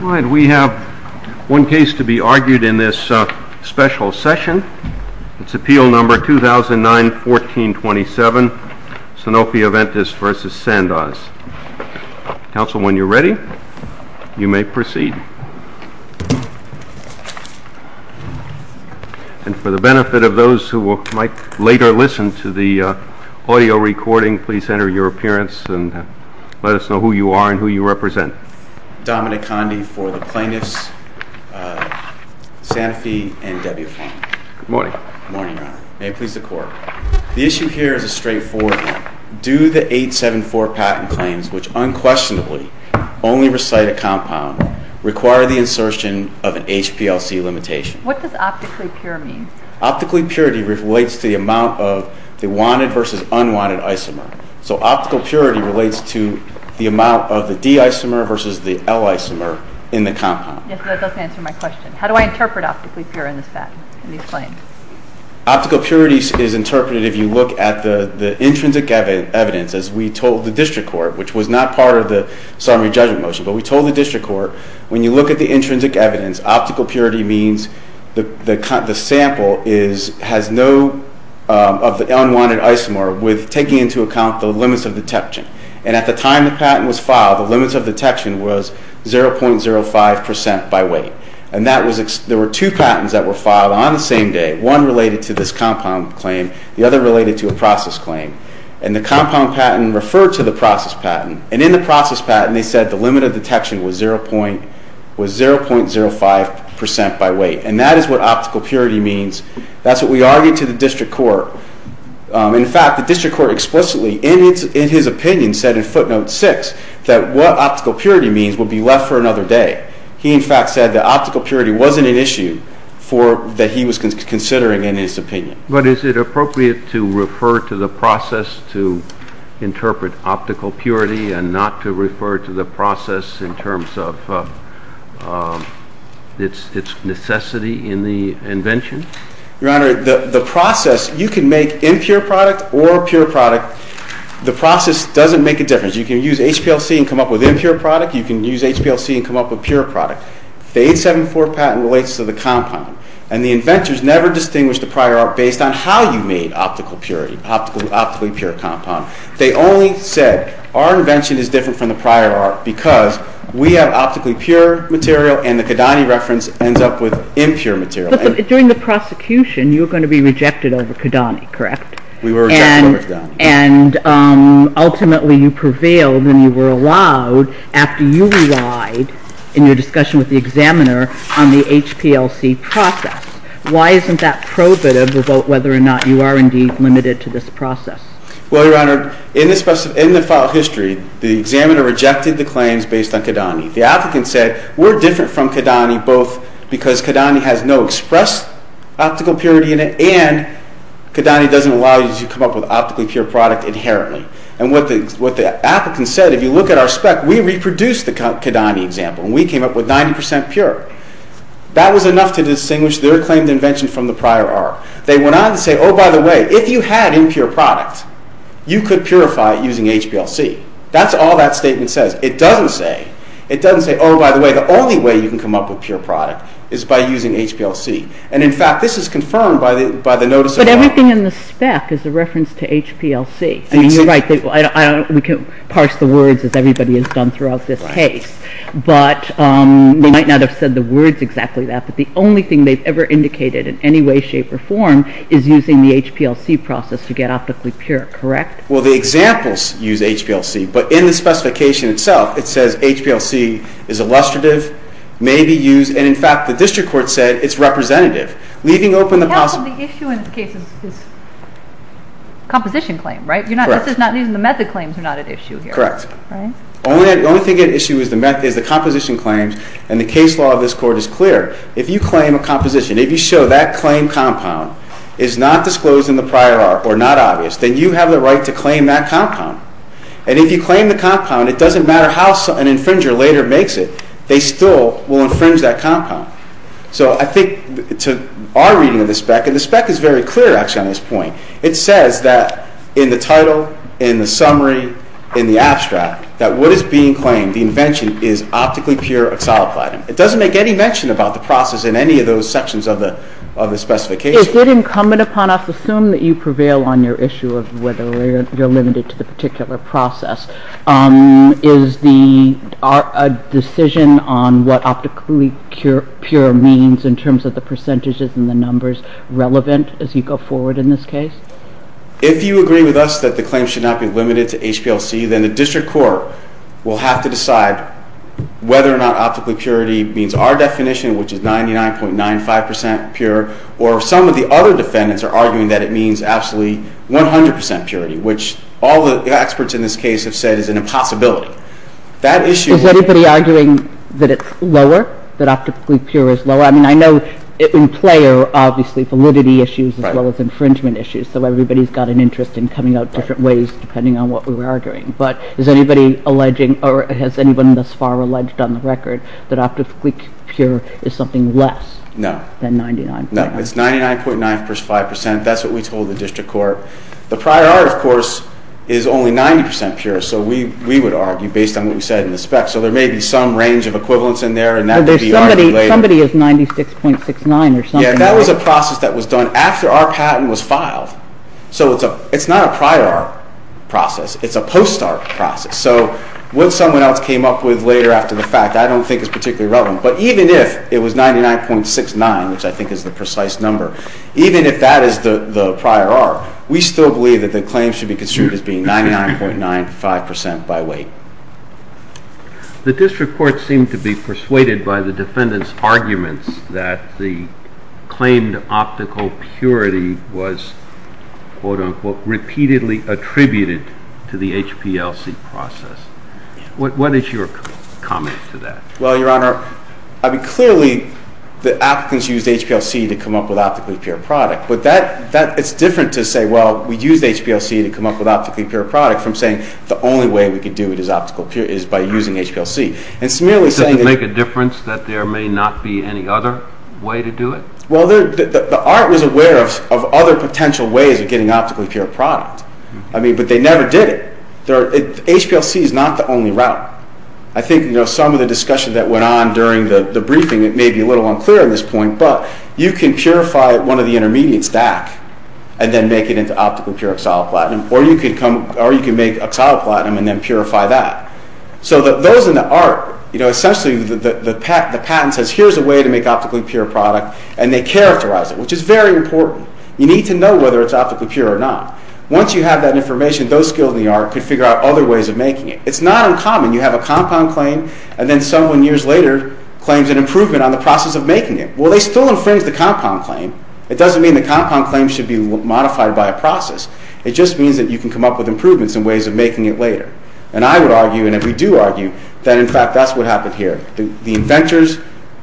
We have one case to be argued in this special session. It is Appeal No. 2009-1427, Sanofi-Aventis v. Sandoz. Council, when you are ready, you may proceed. And for the benefit of those who might later listen to the audio recording, please enter your appearance and let us know who you are and who you represent. I represent Dominic Conde for the plaintiffs, Sanofi and Debbie O'Farrill. Good morning. Good morning, Your Honor. May it please the Court. The issue here is a straightforward one. Do the 874 patent claims, which unquestionably only recite a compound, require the insertion of an HPLC limitation? What does optically pure mean? Optically pure relates to the amount of the wanted versus unwanted isomer. So optical purity relates to the amount of the D isomer versus the L isomer in the compound. Yes, but that doesn't answer my question. How do I interpret optically pure in these claims? Optical purity is interpreted if you look at the intrinsic evidence, as we told the district court, which was not part of the summary judgment motion. But we told the district court, when you look at the intrinsic evidence, optical purity means the sample has no unwanted isomer. With taking into account the limits of detection. And at the time the patent was filed, the limits of detection was 0.05% by weight. And there were two patents that were filed on the same day. One related to this compound claim. The other related to a process claim. And the compound patent referred to the process patent. And in the process patent, they said the limit of detection was 0.05% by weight. And that is what optical purity means. That's what we argued to the district court. In fact, the district court explicitly, in his opinion, said in footnote 6, that what optical purity means would be left for another day. He, in fact, said that optical purity wasn't an issue that he was considering in his opinion. But is it appropriate to refer to the process to interpret optical purity and not to refer to the process in terms of its necessity in the invention? Your Honor, the process, you can make impure product or pure product. The process doesn't make a difference. You can use HPLC and come up with impure product. You can use HPLC and come up with pure product. The 874 patent relates to the compound. And the inventors never distinguished the prior art based on how you made optical purity, optically pure compound. They only said our invention is different from the prior art because we have optically pure material and the Kidani reference ends up with impure material. But during the prosecution, you were going to be rejected over Kidani, correct? We were rejected over Kidani. And ultimately, you prevailed and you were allowed after you relied, in your discussion with the examiner, on the HPLC process. Why isn't that probative about whether or not you are indeed limited to this process? Well, Your Honor, in the file history, the examiner rejected the claims based on Kidani. The applicant said, we're different from Kidani both because Kidani has no expressed optical purity in it and Kidani doesn't allow you to come up with optically pure product inherently. And what the applicant said, if you look at our spec, we reproduced the Kidani example and we came up with 90% pure. That was enough to distinguish their claimed invention from the prior art. They went on to say, oh, by the way, if you had impure product, you could purify it using HPLC. That's all that statement says. It doesn't say, oh, by the way, the only way you can come up with pure product is by using HPLC. And, in fact, this is confirmed by the notice of… But everything in the spec is a reference to HPLC. I mean, you're right. We can parse the words as everybody has done throughout this case. But they might not have said the words exactly that, but the only thing they've ever indicated in any way, shape, or form is using the HPLC process to get optically pure, correct? Well, the examples use HPLC, but in the specification itself, it says HPLC is illustrative, may be used, and, in fact, the district court said it's representative, leaving open the possible… The issue in this case is composition claim, right? Correct. These are the method claims that are not at issue here. Correct. The only thing at issue is the composition claims, and the case law of this court is clear. If you claim a composition, if you show that claim compound is not disclosed in the prior art or not obvious, then you have the right to claim that compound. And if you claim the compound, it doesn't matter how an infringer later makes it, they still will infringe that compound. So I think to our reading of the spec, and the spec is very clear, actually, on this point, it says that in the title, in the summary, in the abstract, that what is being claimed, the invention, is optically pure oxalaplatin. It doesn't make any mention about the process in any of those sections of the specification. Is it incumbent upon us to assume that you prevail on your issue of whether you're limited to the particular process? Is the decision on what optically pure means in terms of the percentages and the numbers relevant as you go forward in this case? If you agree with us that the claim should not be limited to HPLC, then the district court will have to decide whether or not optically purity means our definition, which is 99.95% pure, or some of the other defendants are arguing that it means absolutely 100% purity, which all the experts in this case have said is an impossibility. Is anybody arguing that it's lower, that optically pure is lower? I mean, I know in play are obviously validity issues as well as infringement issues, so everybody's got an interest in coming out different ways depending on what we're arguing. But is anybody alleging or has anyone thus far alleged on the record that optically pure is something less than 99.95%? No, it's 99.95%, that's what we told the district court. The prior art, of course, is only 90% pure, so we would argue based on what we said in the spec, so there may be some range of equivalents in there and that could be argued later. Somebody is 96.69% or something, right? Yeah, that was a process that was done after our patent was filed, so it's not a prior art process. It's a post-art process, so what someone else came up with later after the fact I don't think is particularly relevant. But even if it was 99.69%, which I think is the precise number, even if that is the prior art, we still believe that the claim should be construed as being 99.95% by weight. The district court seemed to be persuaded by the defendant's arguments that the claimed optical purity was, quote-unquote, repeatedly attributed to the HPLC process. What is your comment to that? Well, Your Honor, clearly the applicants used HPLC to come up with optically pure product, but it's different to say, well, we used HPLC to come up with optically pure product, from saying the only way we could do it is by using HPLC. Does it make a difference that there may not be any other way to do it? Well, the art was aware of other potential ways of getting optically pure product, but they never did it. HPLC is not the only route. I think some of the discussion that went on during the briefing, it may be a little unclear at this point, but you can purify one of the intermediates back and then make it into optically pure oxaloplatinum, or you can make oxaloplatinum and then purify that. So those in the art, essentially the patent says, here's a way to make optically pure product, and they characterize it, which is very important. You need to know whether it's optically pure or not. Once you have that information, those skilled in the art could figure out other ways of making it. It's not uncommon. You have a compound claim, and then someone years later claims an improvement on the process of making it. Well, they still infringed the compound claim. It doesn't mean the compound claim should be modified by a process. It just means that you can come up with improvements and ways of making it later. And I would argue, and we do argue, that in fact that's what happened here. The inventors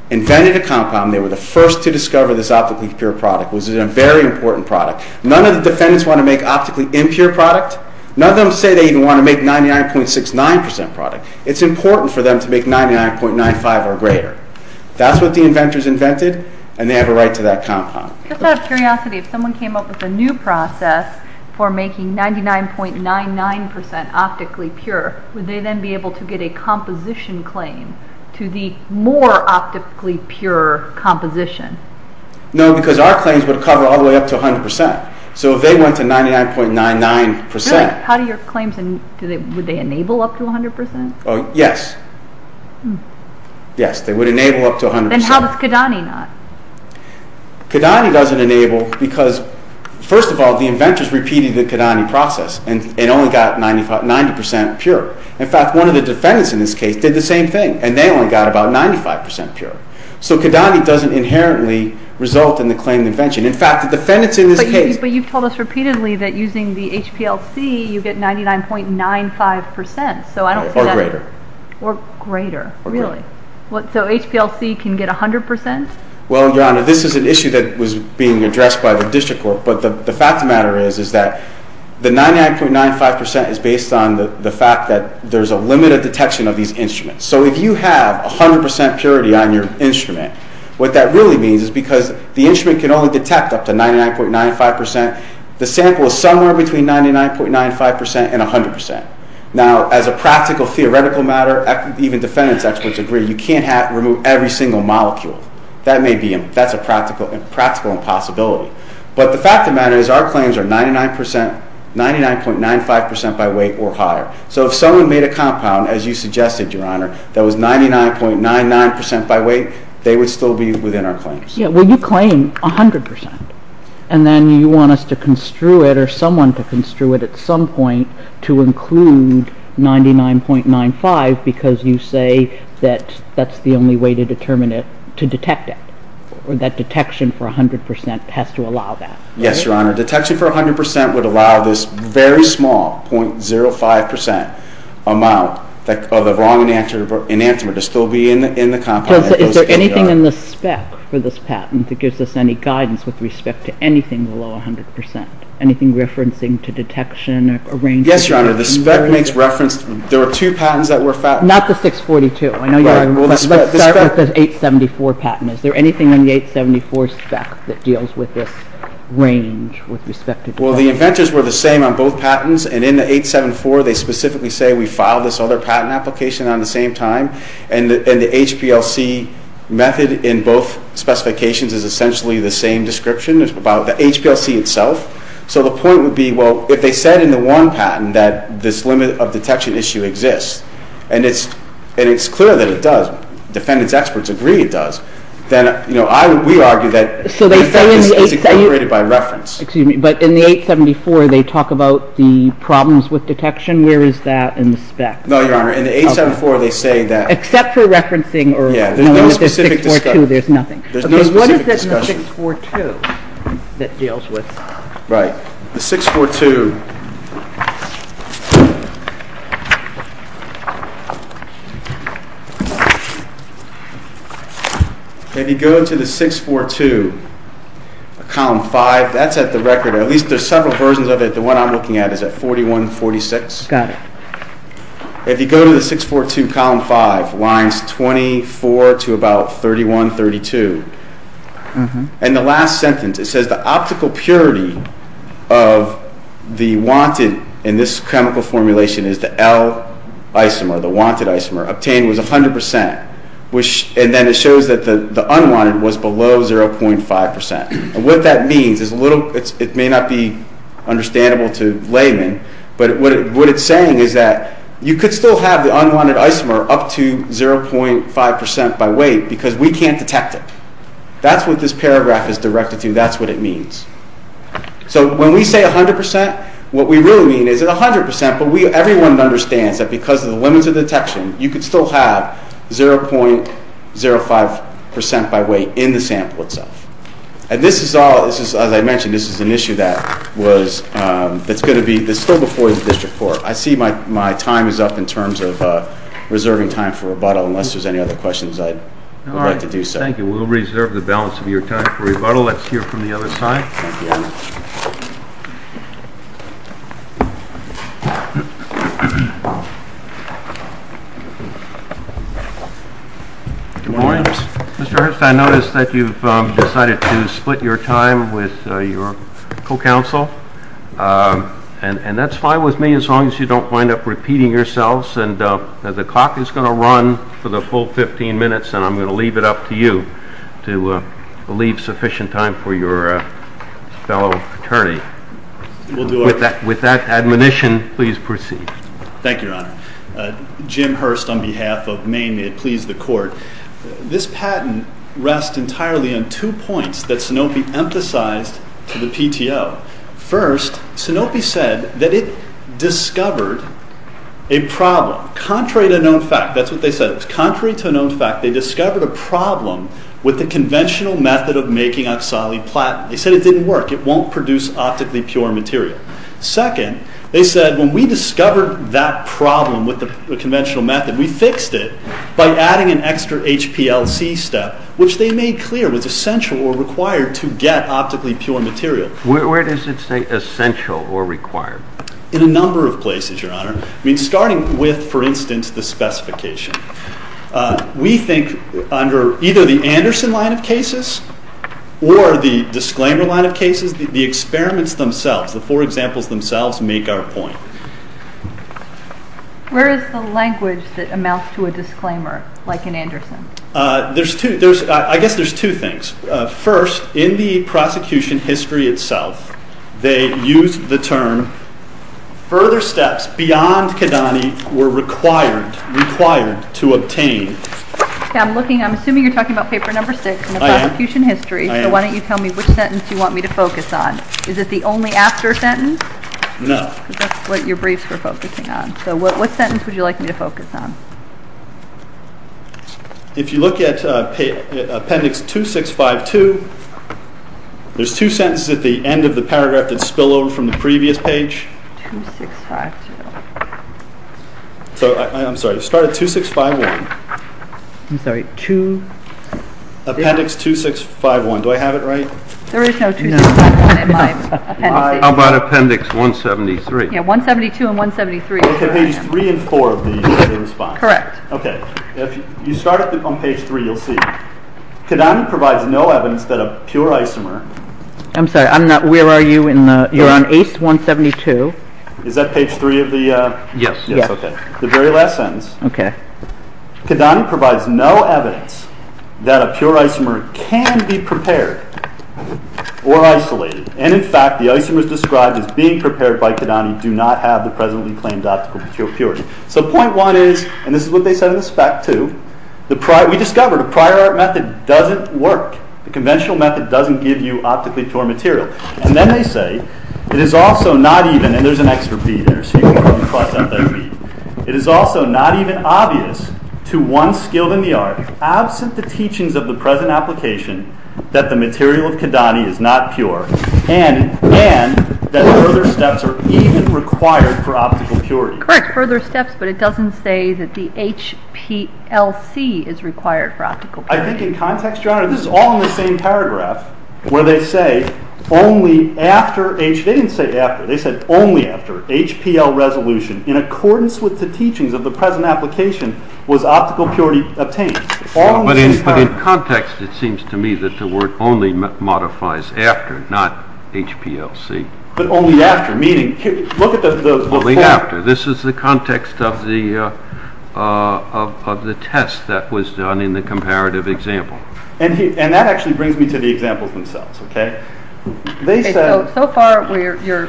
invented a compound. They were the first to discover this optically pure product. It was a very important product. None of the defendants want to make optically impure product. None of them say they even want to make 99.69% product. It's important for them to make 99.95% or greater. That's what the inventors invented, and they have a right to that compound. Just out of curiosity, if someone came up with a new process for making 99.99% optically pure, would they then be able to get a composition claim to the more optically pure composition? No, because our claims would cover all the way up to 100%. So if they went to 99.99% Really? How do your claims, would they enable up to 100%? Yes. Yes, they would enable up to 100%. Then how does Kidani not? Kidani doesn't enable because, first of all, the inventors repeated the Kidani process and only got 90% pure. In fact, one of the defendants in this case did the same thing, and they only got about 95% pure. So Kidani doesn't inherently result in the claimed invention. In fact, the defendants in this case But you've told us repeatedly that using the HPLC, you get 99.95% Or greater. Or greater, really? So HPLC can get 100%? Well, Your Honor, this is an issue that was being addressed by the district court, but the fact of the matter is that the 99.95% is based on the fact that there's a limited detection of these instruments. So if you have 100% purity on your instrument, what that really means is because the instrument can only detect up to 99.95%, the sample is somewhere between 99.95% and 100%. Now, as a practical theoretical matter, even defendants experts agree, you can't remove every single molecule. That's a practical impossibility. But the fact of the matter is our claims are 99.95% by weight or higher. So if someone made a compound, as you suggested, Your Honor, that was 99.99% by weight, they would still be within our claims. Yeah, well, you claim 100%, and then you want us to construe it or someone to construe it at some point to include 99.95% because you say that that's the only way to determine it, to detect it, or that detection for 100% has to allow that. Yes, Your Honor. Detection for 100% would allow this very small 0.05% amount of the wrong enantiomer to still be in the compound. Is there anything in the spec for this patent that gives us any guidance with respect to anything below 100%, anything referencing to detection or range? Yes, Your Honor. The spec makes reference. There were two patents that were found. Not the 642. Let's start with the 874 patent. Is there anything in the 874 spec that deals with this range with respect to detection? Well, the inventors were the same on both patents, and in the 874 they specifically say we filed this other patent application on the same time, and the HPLC method in both specifications is essentially the same description. It's about the HPLC itself. So the point would be, well, if they said in the one patent that this limit of detection issue exists, and it's clear that it does, defendants experts agree it does, then we argue that it's incorporated by reference. Excuse me, but in the 874 they talk about the problems with detection. Where is that in the spec? No, Your Honor. In the 874 they say that Except for referencing or There's no specific discussion. There's nothing. There's no specific discussion. The 642 that deals with Right. The 642. If you go to the 642, column 5, that's at the record. At least there's several versions of it. The one I'm looking at is at 4146. Got it. If you go to the 642, column 5, lines 24 to about 3132. And the last sentence, it says, The optical purity of the wanted, in this chemical formulation, is the L isomer, the wanted isomer, obtained was 100%. And then it shows that the unwanted was below 0.5%. And what that means is a little It may not be understandable to laymen, but what it's saying is that you could still have the unwanted isomer up to 0.5% by weight because we can't detect it. That's what this paragraph is directed to. That's what it means. So when we say 100%, what we really mean is that 100%, but everyone understands that because of the limits of detection, you could still have 0.05% by weight in the sample itself. And this is all, as I mentioned, this is an issue that was that's going to be, that's still before the district court. I see my time is up in terms of reserving time for rebuttal unless there's any other questions, I'd like to do so. All right, thank you. We'll reserve the balance of your time for rebuttal. Let's hear from the other side. Good morning. Mr. Ernst, I notice that you've decided to split your time with your co-counsel. And that's fine with me, as long as you don't wind up repeating yourselves. And the clock is going to run for the full 15 minutes, and I'm going to leave it up to you to leave sufficient time for your fellow attorney. With that admonition, please proceed. Thank you, Your Honor. Jim Hurst on behalf of Maine. May it please the Court. This patent rests entirely on two points that Sanofi emphasized to the PTO. First, Sanofi said that it discovered a problem. Contrary to known fact. That's what they said. Contrary to known fact, they discovered a problem with the conventional method of making oxali platinum. They said it didn't work. It won't produce optically pure material. Second, they said when we discovered that problem with the conventional method, we fixed it by adding an extra HPLC step, which they made clear was essential or required to get optically pure material. Where does it say essential or required? In a number of places, Your Honor. Starting with, for instance, the specification. We think under either the Anderson line of cases or the disclaimer line of cases, the experiments themselves, the four examples themselves make our point. Where is the language that amounts to a disclaimer like in Anderson? I guess there's two things. First, in the prosecution history itself, they used the term further steps beyond Kidani were required to obtain. I'm assuming you're talking about paper number 6 in the prosecution history. So why don't you tell me which sentence you want me to focus on. Is it the only after sentence? No. That's what your briefs were focusing on. So what sentence would you like me to focus on? If you look at appendix 2652, there's two sentences at the end of the paragraph that spill over from the previous page. 2652. I'm sorry. Start at 2651. I'm sorry. Appendix 2651. Do I have it right? There is no 2651 in my appendix. How about appendix 173? Yeah, 172 and 173. Page 3 and 4 of the response. Correct. Okay. If you start on page 3, you'll see. Kidani provides no evidence that a pure isomer... I'm sorry. Where are you? You're on ace 172. Is that page 3 of the... Yes. The very last sentence. Okay. Kidani provides no evidence that a pure isomer can be prepared or isolated. And in fact, the isomers described as being prepared by Kidani do not have the presently claimed optical purity. So point one is, and this is what they said in the spec too, we discovered a prior art method doesn't work. The conventional method doesn't give you optically pure material. And then they say, it is also not even, and there's an extra B there, so you can cross out that B. It is also not even obvious to one skilled in the art, absent the teachings of the present application, that the material of Kidani is not pure, and that further steps are even required for optical purity. Correct. Further steps, but it doesn't say that the HPLC is required for optical purity. I think in context, Your Honor, this is all in the same paragraph, where they say, only after, they didn't say after, they said only after, HPL resolution, in accordance with the teachings of the present application, was optical purity obtained. All in the same paragraph. But in context, it seems to me that the word only modifies after, not HPLC. But only after, meaning, look at the, Only after. This is the context of the, of the test that was done in the comparative example. And that actually brings me to the examples themselves, okay? They said, So far, your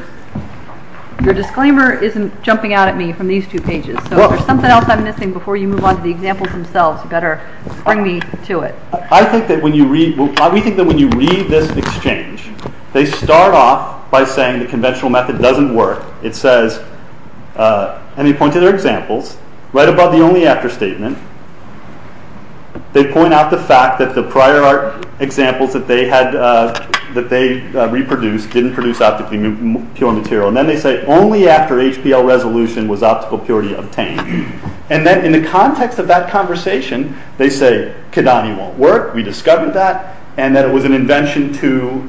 disclaimer isn't jumping out at me from these two pages, so there's something else I'm missing before you move on to the examples themselves. You better bring me to it. I think that when you read, we think that when you read this exchange, they start off by saying, the conventional method doesn't work. It says, and they point to their examples, right above the only after statement. They point out the fact that the prior art examples that they had, that they reproduced, didn't produce optically pure material. And then they say, Only after HPL resolution was optical purity obtained. And then, in the context of that conversation, they say, Kidani won't work. We discovered that. And that it was an invention to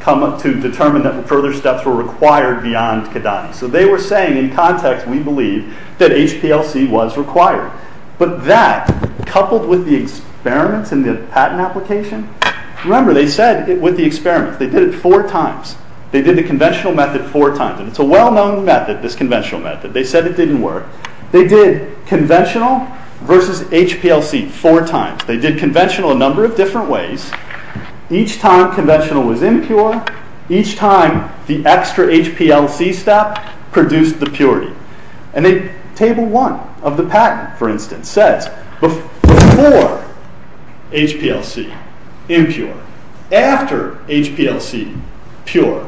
come up, to determine that further steps were required beyond Kidani. So they were saying, in context, we believe, that HPLC was required. But that, coupled with the experiments and the patent application, remember, they said, with the experiments, they did it four times. They did the conventional method four times. And it's a well-known method, this conventional method. They said it didn't work. They did conventional versus HPLC four times. They did conventional a number of different ways. Each time conventional was impure, each time the extra HPLC step produced the purity. And then, Table 1 of the patent, for instance, says, Before HPLC, impure. After HPLC, pure.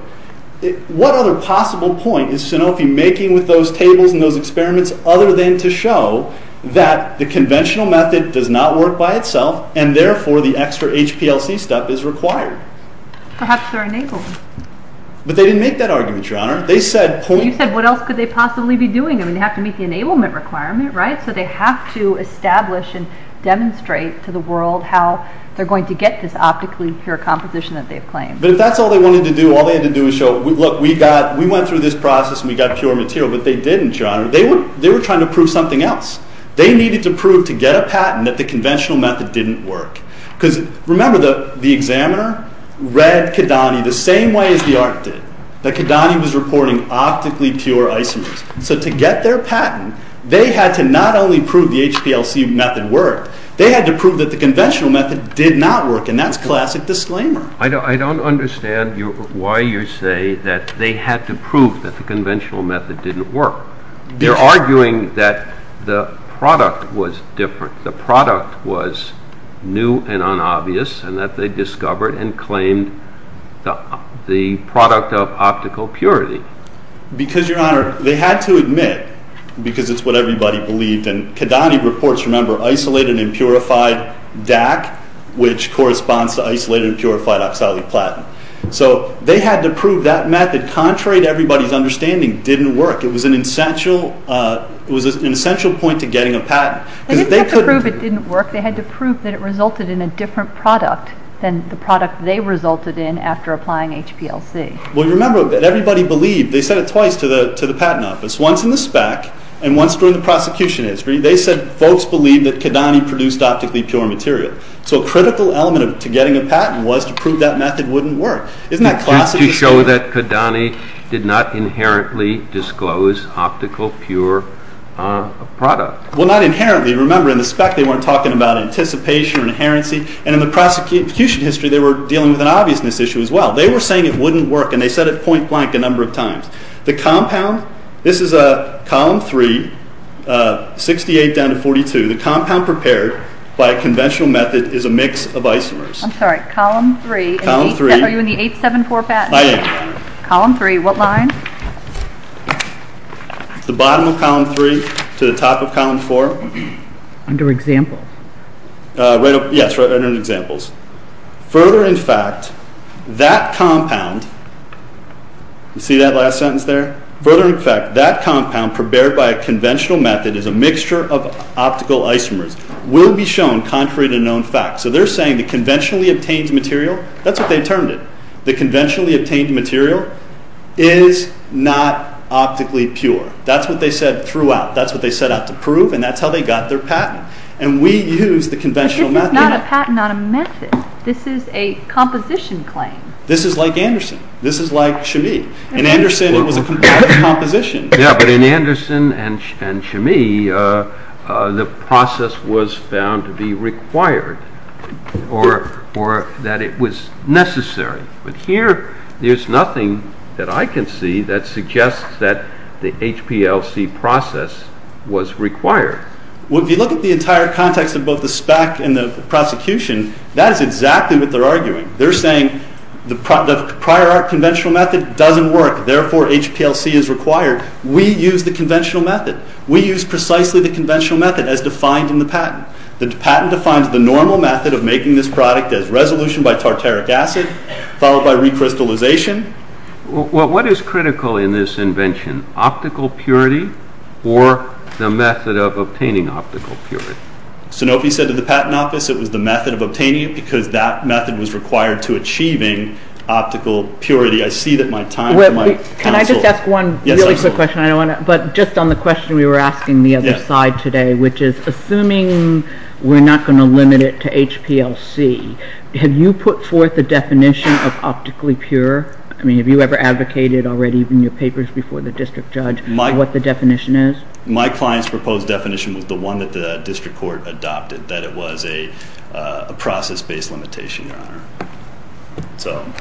What other possible point is Sanofi making with those tables and those experiments other than to show that the conventional method does not work by itself, and therefore, the extra HPLC step is required? Perhaps they're enabling. But they didn't make that argument, Your Honor. They said, You said, What else could they possibly be doing? I mean, they have to meet the enablement requirement, right? So they have to establish and demonstrate to the world how they're going to get this optically pure composition that they've claimed. But if that's all they wanted to do, all they had to do was show, Look, and we got pure material. But they didn't, Your Honor. They were trying to prove something else. They needed to prove to get a patent that the conventional method didn't work. Because, remember, the examiner read Kidani the same way as the art did, that Kidani was reporting optically pure isomers. So to get their patent, they had to not only prove the HPLC method worked, they had to prove that the conventional method did not work, and that's classic disclaimer. I don't understand why you say that they had to prove that the conventional method didn't work. They're arguing that the product was different. The product was new and unobvious, and that they discovered and claimed the product of optical purity. Because, Your Honor, they had to admit, because it's what everybody believed, and Kidani reports, remember, isolated and purified DAC, which corresponds to isolated and purified oxaliplatin. So they had to prove that method, contrary to everybody's understanding, didn't work. It was an essential point to getting a patent. They didn't have to prove it didn't work. They had to prove that it resulted in a different product than the product they resulted in after applying HPLC. Well, you remember that everybody believed, they said it twice to the patent office, once in the spec, and once during the prosecution history, they said folks believed that Kidani produced optically pure material. So a critical element to getting a patent was to prove that method wouldn't work. Isn't that classic? To show that Kidani did not inherently disclose optical pure product. Well, not inherently. Remember, in the spec they weren't talking about anticipation or inherency. And in the prosecution history they were dealing with an obviousness issue as well. They were saying it wouldn't work and they said it point blank a number of times. The compound, this is column 3, 68 down to 42. The compound prepared by a conventional method is a mix of isomers. I'm sorry. Column 3. Column 3. Are you in the 874 patent? I am. Column 3. What line? The bottom of column 3 to the top of column 4. Under examples. Yes, under examples. Further in fact, that compound, see that last sentence there? Further in fact, that compound prepared by a conventional method is a mixture of optical isomers will be shown contrary to known facts. So they're saying the conventionally obtained material, that's what they termed it, the conventionally obtained material is not optically pure. That's what they said throughout. That's what they set out to prove and that's how they got their patent. And we use the conventional method. But this is not a patent on a method. This is a composition claim. This is like Anderson. This is like Chemie. In Anderson, it was a comparative composition. Yeah, but in Anderson and Chemie, the process was found to be required or that it was necessary. But here, there's nothing that I can see that suggests that the HPLC process was required. Well, if you look at the entire context of both the spec and the prosecution, that is exactly what they're arguing. They're saying the prior art conventional method doesn't work, therefore HPLC is required. We use the conventional method. We use precisely the conventional method as defined in the patent. The patent defines the normal method of making this product as resolution by tartaric acid followed by recrystallization. Well, what is critical in this invention? Optical purity or the method of obtaining optical purity? Sanofi said to the patent office it was the method of obtaining it because that method was required to achieving optical purity. I see that my time for my counsel... Can I just ask one really quick question? I don't want to... But just on the question we were asking the other side today, which is assuming we're not going to limit it to HPLC, have you put forth the definition of optically pure? I mean, have you ever advocated already in your papers before the district judge what the definition is? My client's proposed definition was the one that the district court that it was a process-based limitation, Your Honor. So,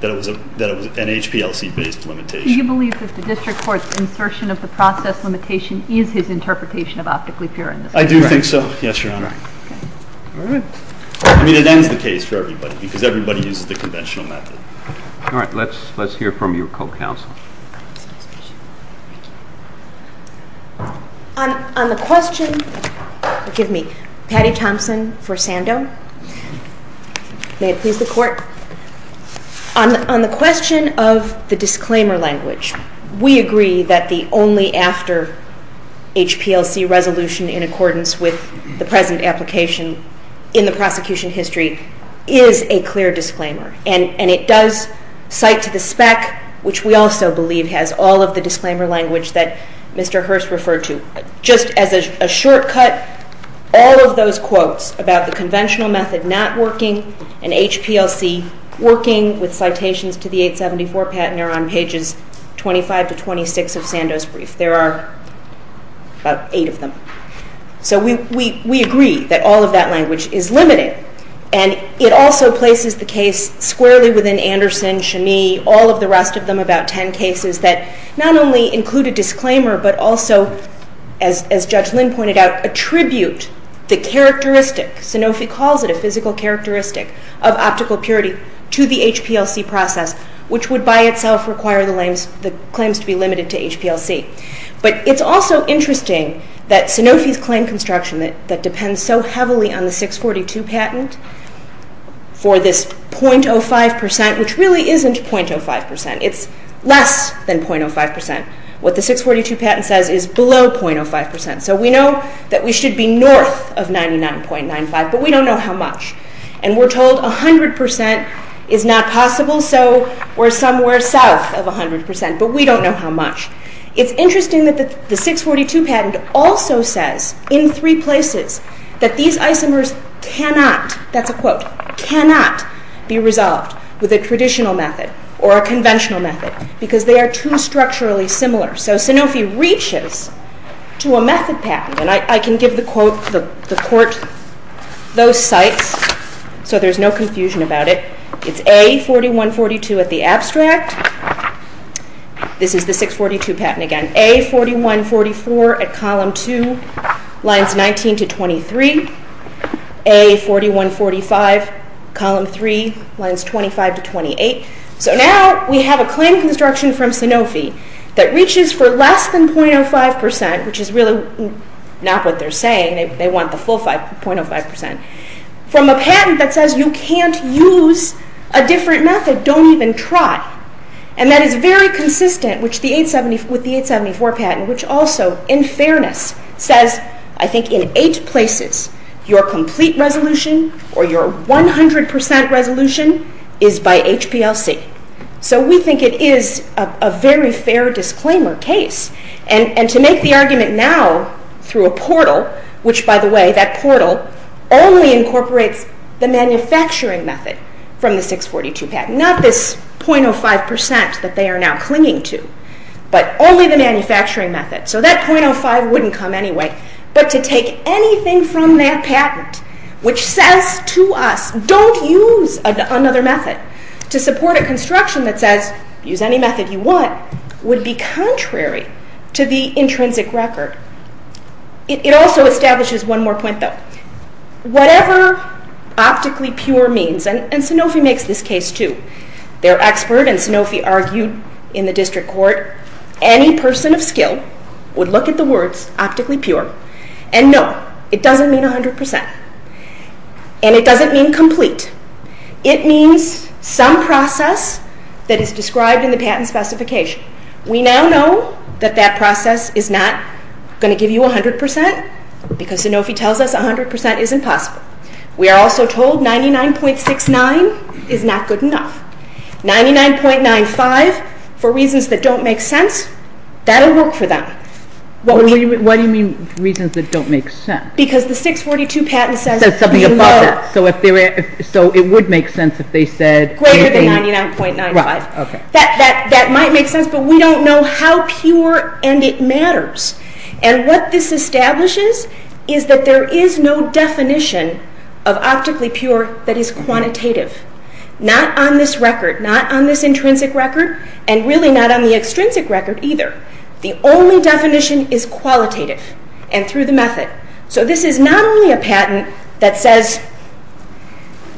that it was an HPLC-based limitation. Do you believe that the district court's insertion of the process limitation is his interpretation of optically pure in this case? I do think so. Yes, Your Honor. All right. I mean, it ends the case for everybody because everybody uses the conventional method. All right. Let's hear from your co-counsel. On the question of the disclaimer language, we agree that the only after HPLC resolution prosecution history is a clear disclaimer and it does cite a clear definition of optically pure in this case. So, I would like to go back to the spec, which we also believe has all of the disclaimer language that Mr. Hearst referred to. Just as a shortcut, all of those quotes about the conventional method not working and HPLC working with citations to the 874 patent are on pages 25 to 26 of Sandow's case. would like to see all of the rest of them, about 10 cases, that not only include a disclaimer but also, as Judge Lin pointed out, attribute the characteristic, Sanofi calls it a physical characteristic of optical purity, to the HPLC process, which would by itself require the claims to be limited to HPLC. But it's also interesting that Sanofi's claim construction that depends so heavily on the 642 patent for this .05 percent, which really isn't .05 percent, it's less than .05 percent. What the 642 patent says is below .05 percent. So we know that we should be north of 99.95 but we don't know how much. And we're told 100 percent is not possible so we're somewhere south of 100 percent but we don't know how much. It's interesting that the 642 patent also says in three places that these isomers cannot, that's a quote, cannot be used to give the court those sites so there's no confusion about it. It's A4142 at the abstract. This is the 642 patent again. A4144 at column 2 lines 19 to 23. A4145 column 3 lines 25 to 28. So now we have a claim construction from Sanofi that reaches for less than 0.05 percent, which is really not what they're saying. They want the full 0.05 percent from a patent that says you can't use a different method, don't even try and that is very consistent with the 874 patent which also in fairness says I think in eight places your complete resolution or your 100 percent resolution is by HPLC. So we think it is a very fair disclaimer case and to make the argument now through a portal which by the way that portal only incorporates the manufacturing method from the 642 patent, not this 0.05 percent that they are now clinging to but only the manufacturing method. So that 0.05 wouldn't come anyway but to take anything from that patent which says to us don't use another method to support a construction that says use any method you want would be contrary to the intrinsic record. It also establishes one more point though. Whatever optically pure means and Sanofi makes this case too. Their expert and Sanofi argued in the district court any person of skill would look at the words optically pure and say no, it doesn't mean 100 percent and it doesn't mean complete. It means some process that is described in the patent specification. We now know that that process is not going to give you 100 percent because Sanofi tells us 100 percent isn't possible. We are also told 99.69 is not good enough. 99.95 for reasons that don't make sense, that will work for them. Why do you mean reasons that don't make sense? Because the 642 patent says you know. So it would make sense if they said greater than 99.95. That might make sense but we don't know how pure and it matters. And what this establishes is that there is no definition of optically pure that is quantitative. Not on this record, not on this intrinsic record and really not on the extrinsic record either. The only definition is qualitative and through the method. So this is not only a patent that says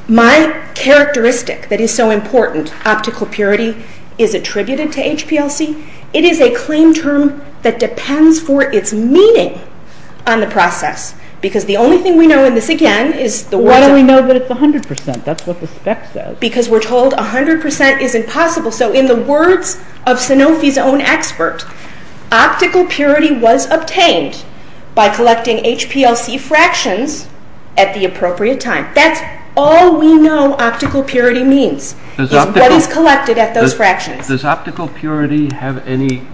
my characteristic that is so important, optical purity, is attributed to HPLC. It is a claim term that depends for its meaning on the process because the only thing we know in this again is the words of Sanofi's own expert, optical purity was obtained by collecting HPLC fractions at the appropriate time. That is all we know optical purity means. What is collected at those fractions. Does optical purity have any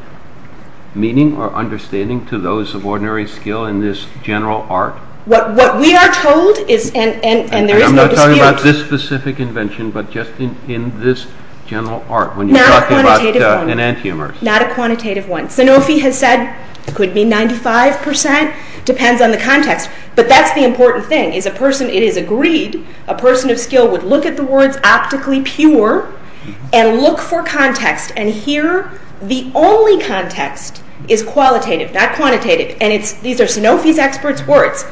meaning or understanding to those of ordinary skill in general art? What we are told is and there is no dispute. I'm not talking about this specific invention but just in this general art. Not a quantitative one. Sanofi has said could be 95% depends on the context but that's the important thing. It is agreed a person of skill would look at the words optically pure and look for context and here the only context is qualitative not quantitative and these are Sanofi's experts words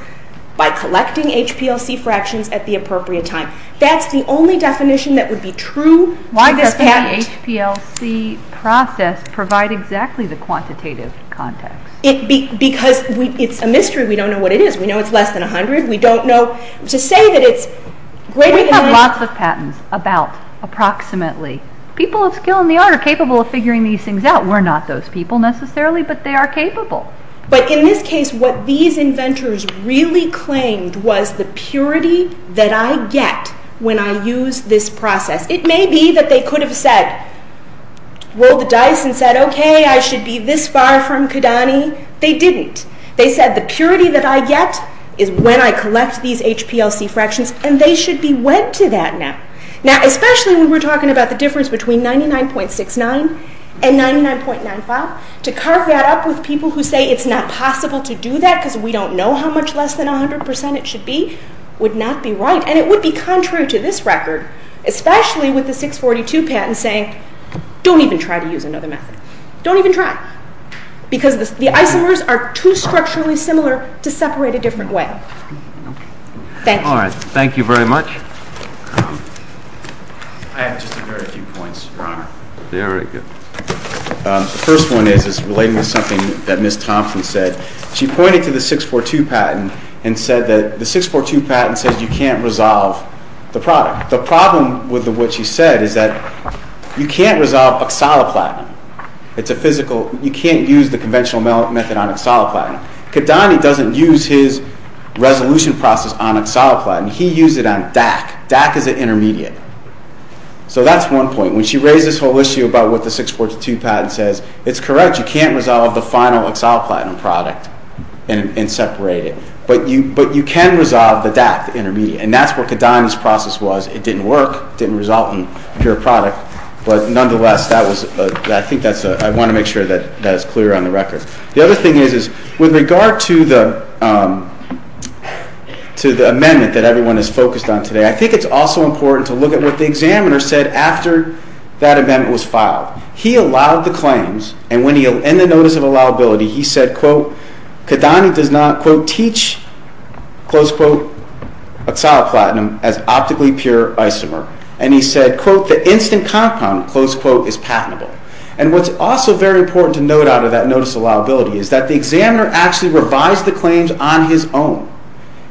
by collecting HPLC fractions at the appropriate time. That's the only definition that would be true. Why does the HPLC process provide exactly the quantitative context? Because it's a mystery. We don't know what it is. We know it's less than 100. We don't know. To say that it's less than not true. We have lots of patents about approximately. People of skill in the art are capable of figuring these things out. We're not those people necessarily but they are capable. But in this case what these inventors really claimed was the purity that I get when I use method. And we went to that now. Especially when we're talking about the difference between 99.69 and 99.95. To carve that up with people who say it's not possible to do that because we don't know how much less than 100 percent it should be would not be right. And it would be contrary to this record especially with the 642 patent saying don't even try to use another method. Don't even try. Because the isomers are too structurally similar to separate a different way. Thank you. Thank you very much. I have just a very few questions. believe the 642 patent says you can't resolve the product. The problem with what she said is that you can't resolve oxaloplatinum. You can't use the conventional method. Kadani doesn't use his resolution process on oxaloplatinum. He used it on pure product. But you can resolve the intermediate. It didn't work. It didn't result in pure product. I want to make sure that's clear on the record. The other thing is with regard to the amendment that everyone is focused on today I think it's also important to look at what the examiner said after that amendment was filed. He allowed the claims. He said Kadani does not teach oxaloplatinum as optically pure isomer. The instant compound is patentable. The examiner revised the claims on his own.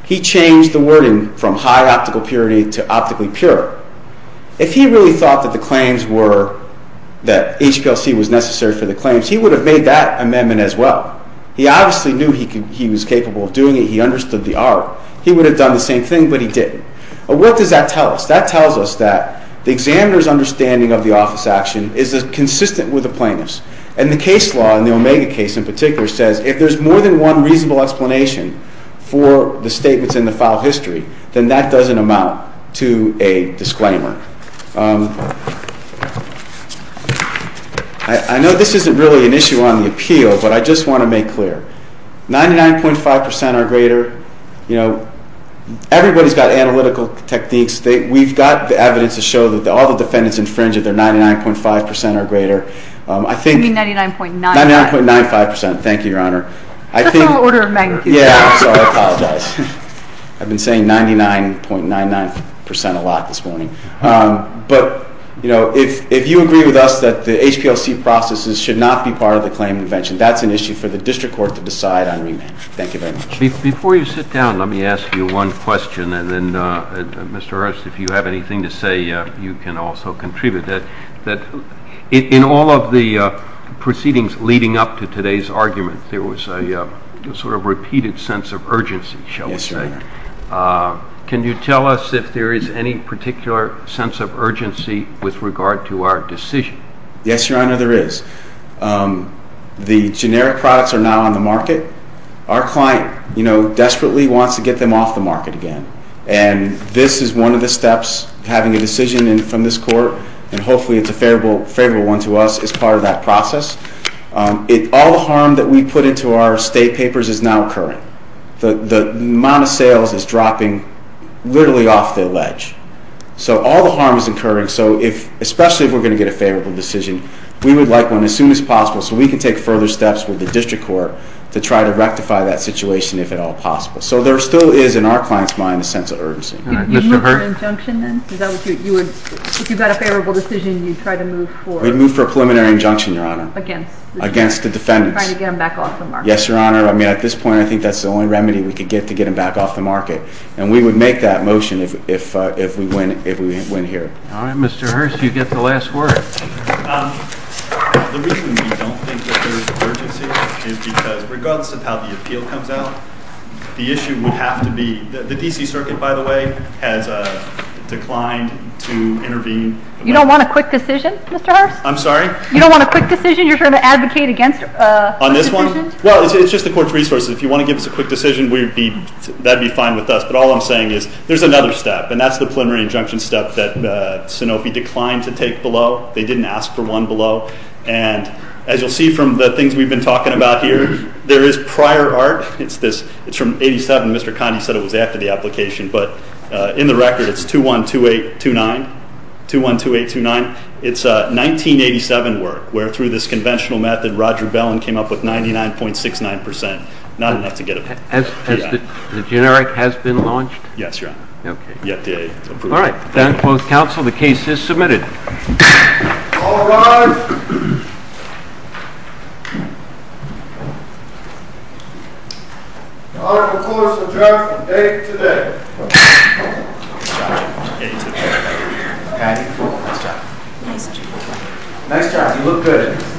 He changed the wording from high optical purity to optically pure. If he thought that HPLC was necessary for the claims he would have made that amendment as well. He obviously knew he was capable of doing it. He understood the art. He would have done the same thing but he didn't. That tells us that the examiner's understanding of the office action is consistent with the highest standards of the law. I would like to say that I would like to say that I would like to say that I would like to say that I would like to say that I I like to say that I would like to say that I would like to support the committee 我是 against the amendment that they opposed to because we need them back off the market we would make motion if we win here Mr. Hearst you get the last word. Regardless of how the appeal comes out the issue would have to be the D.C. has declined to intervene. You don't want a quick decision Mr. Hearst? On this one? If you want to give us a quick decision that would be fine but there is another step that Sanofi declined to take below. As you will see from the things we have been talking about there is prior art. In the record it is 212829. It is 1987 work It is quick. a very quick decision. It is not a quick decision. It is a very quick decision. It a quick decision.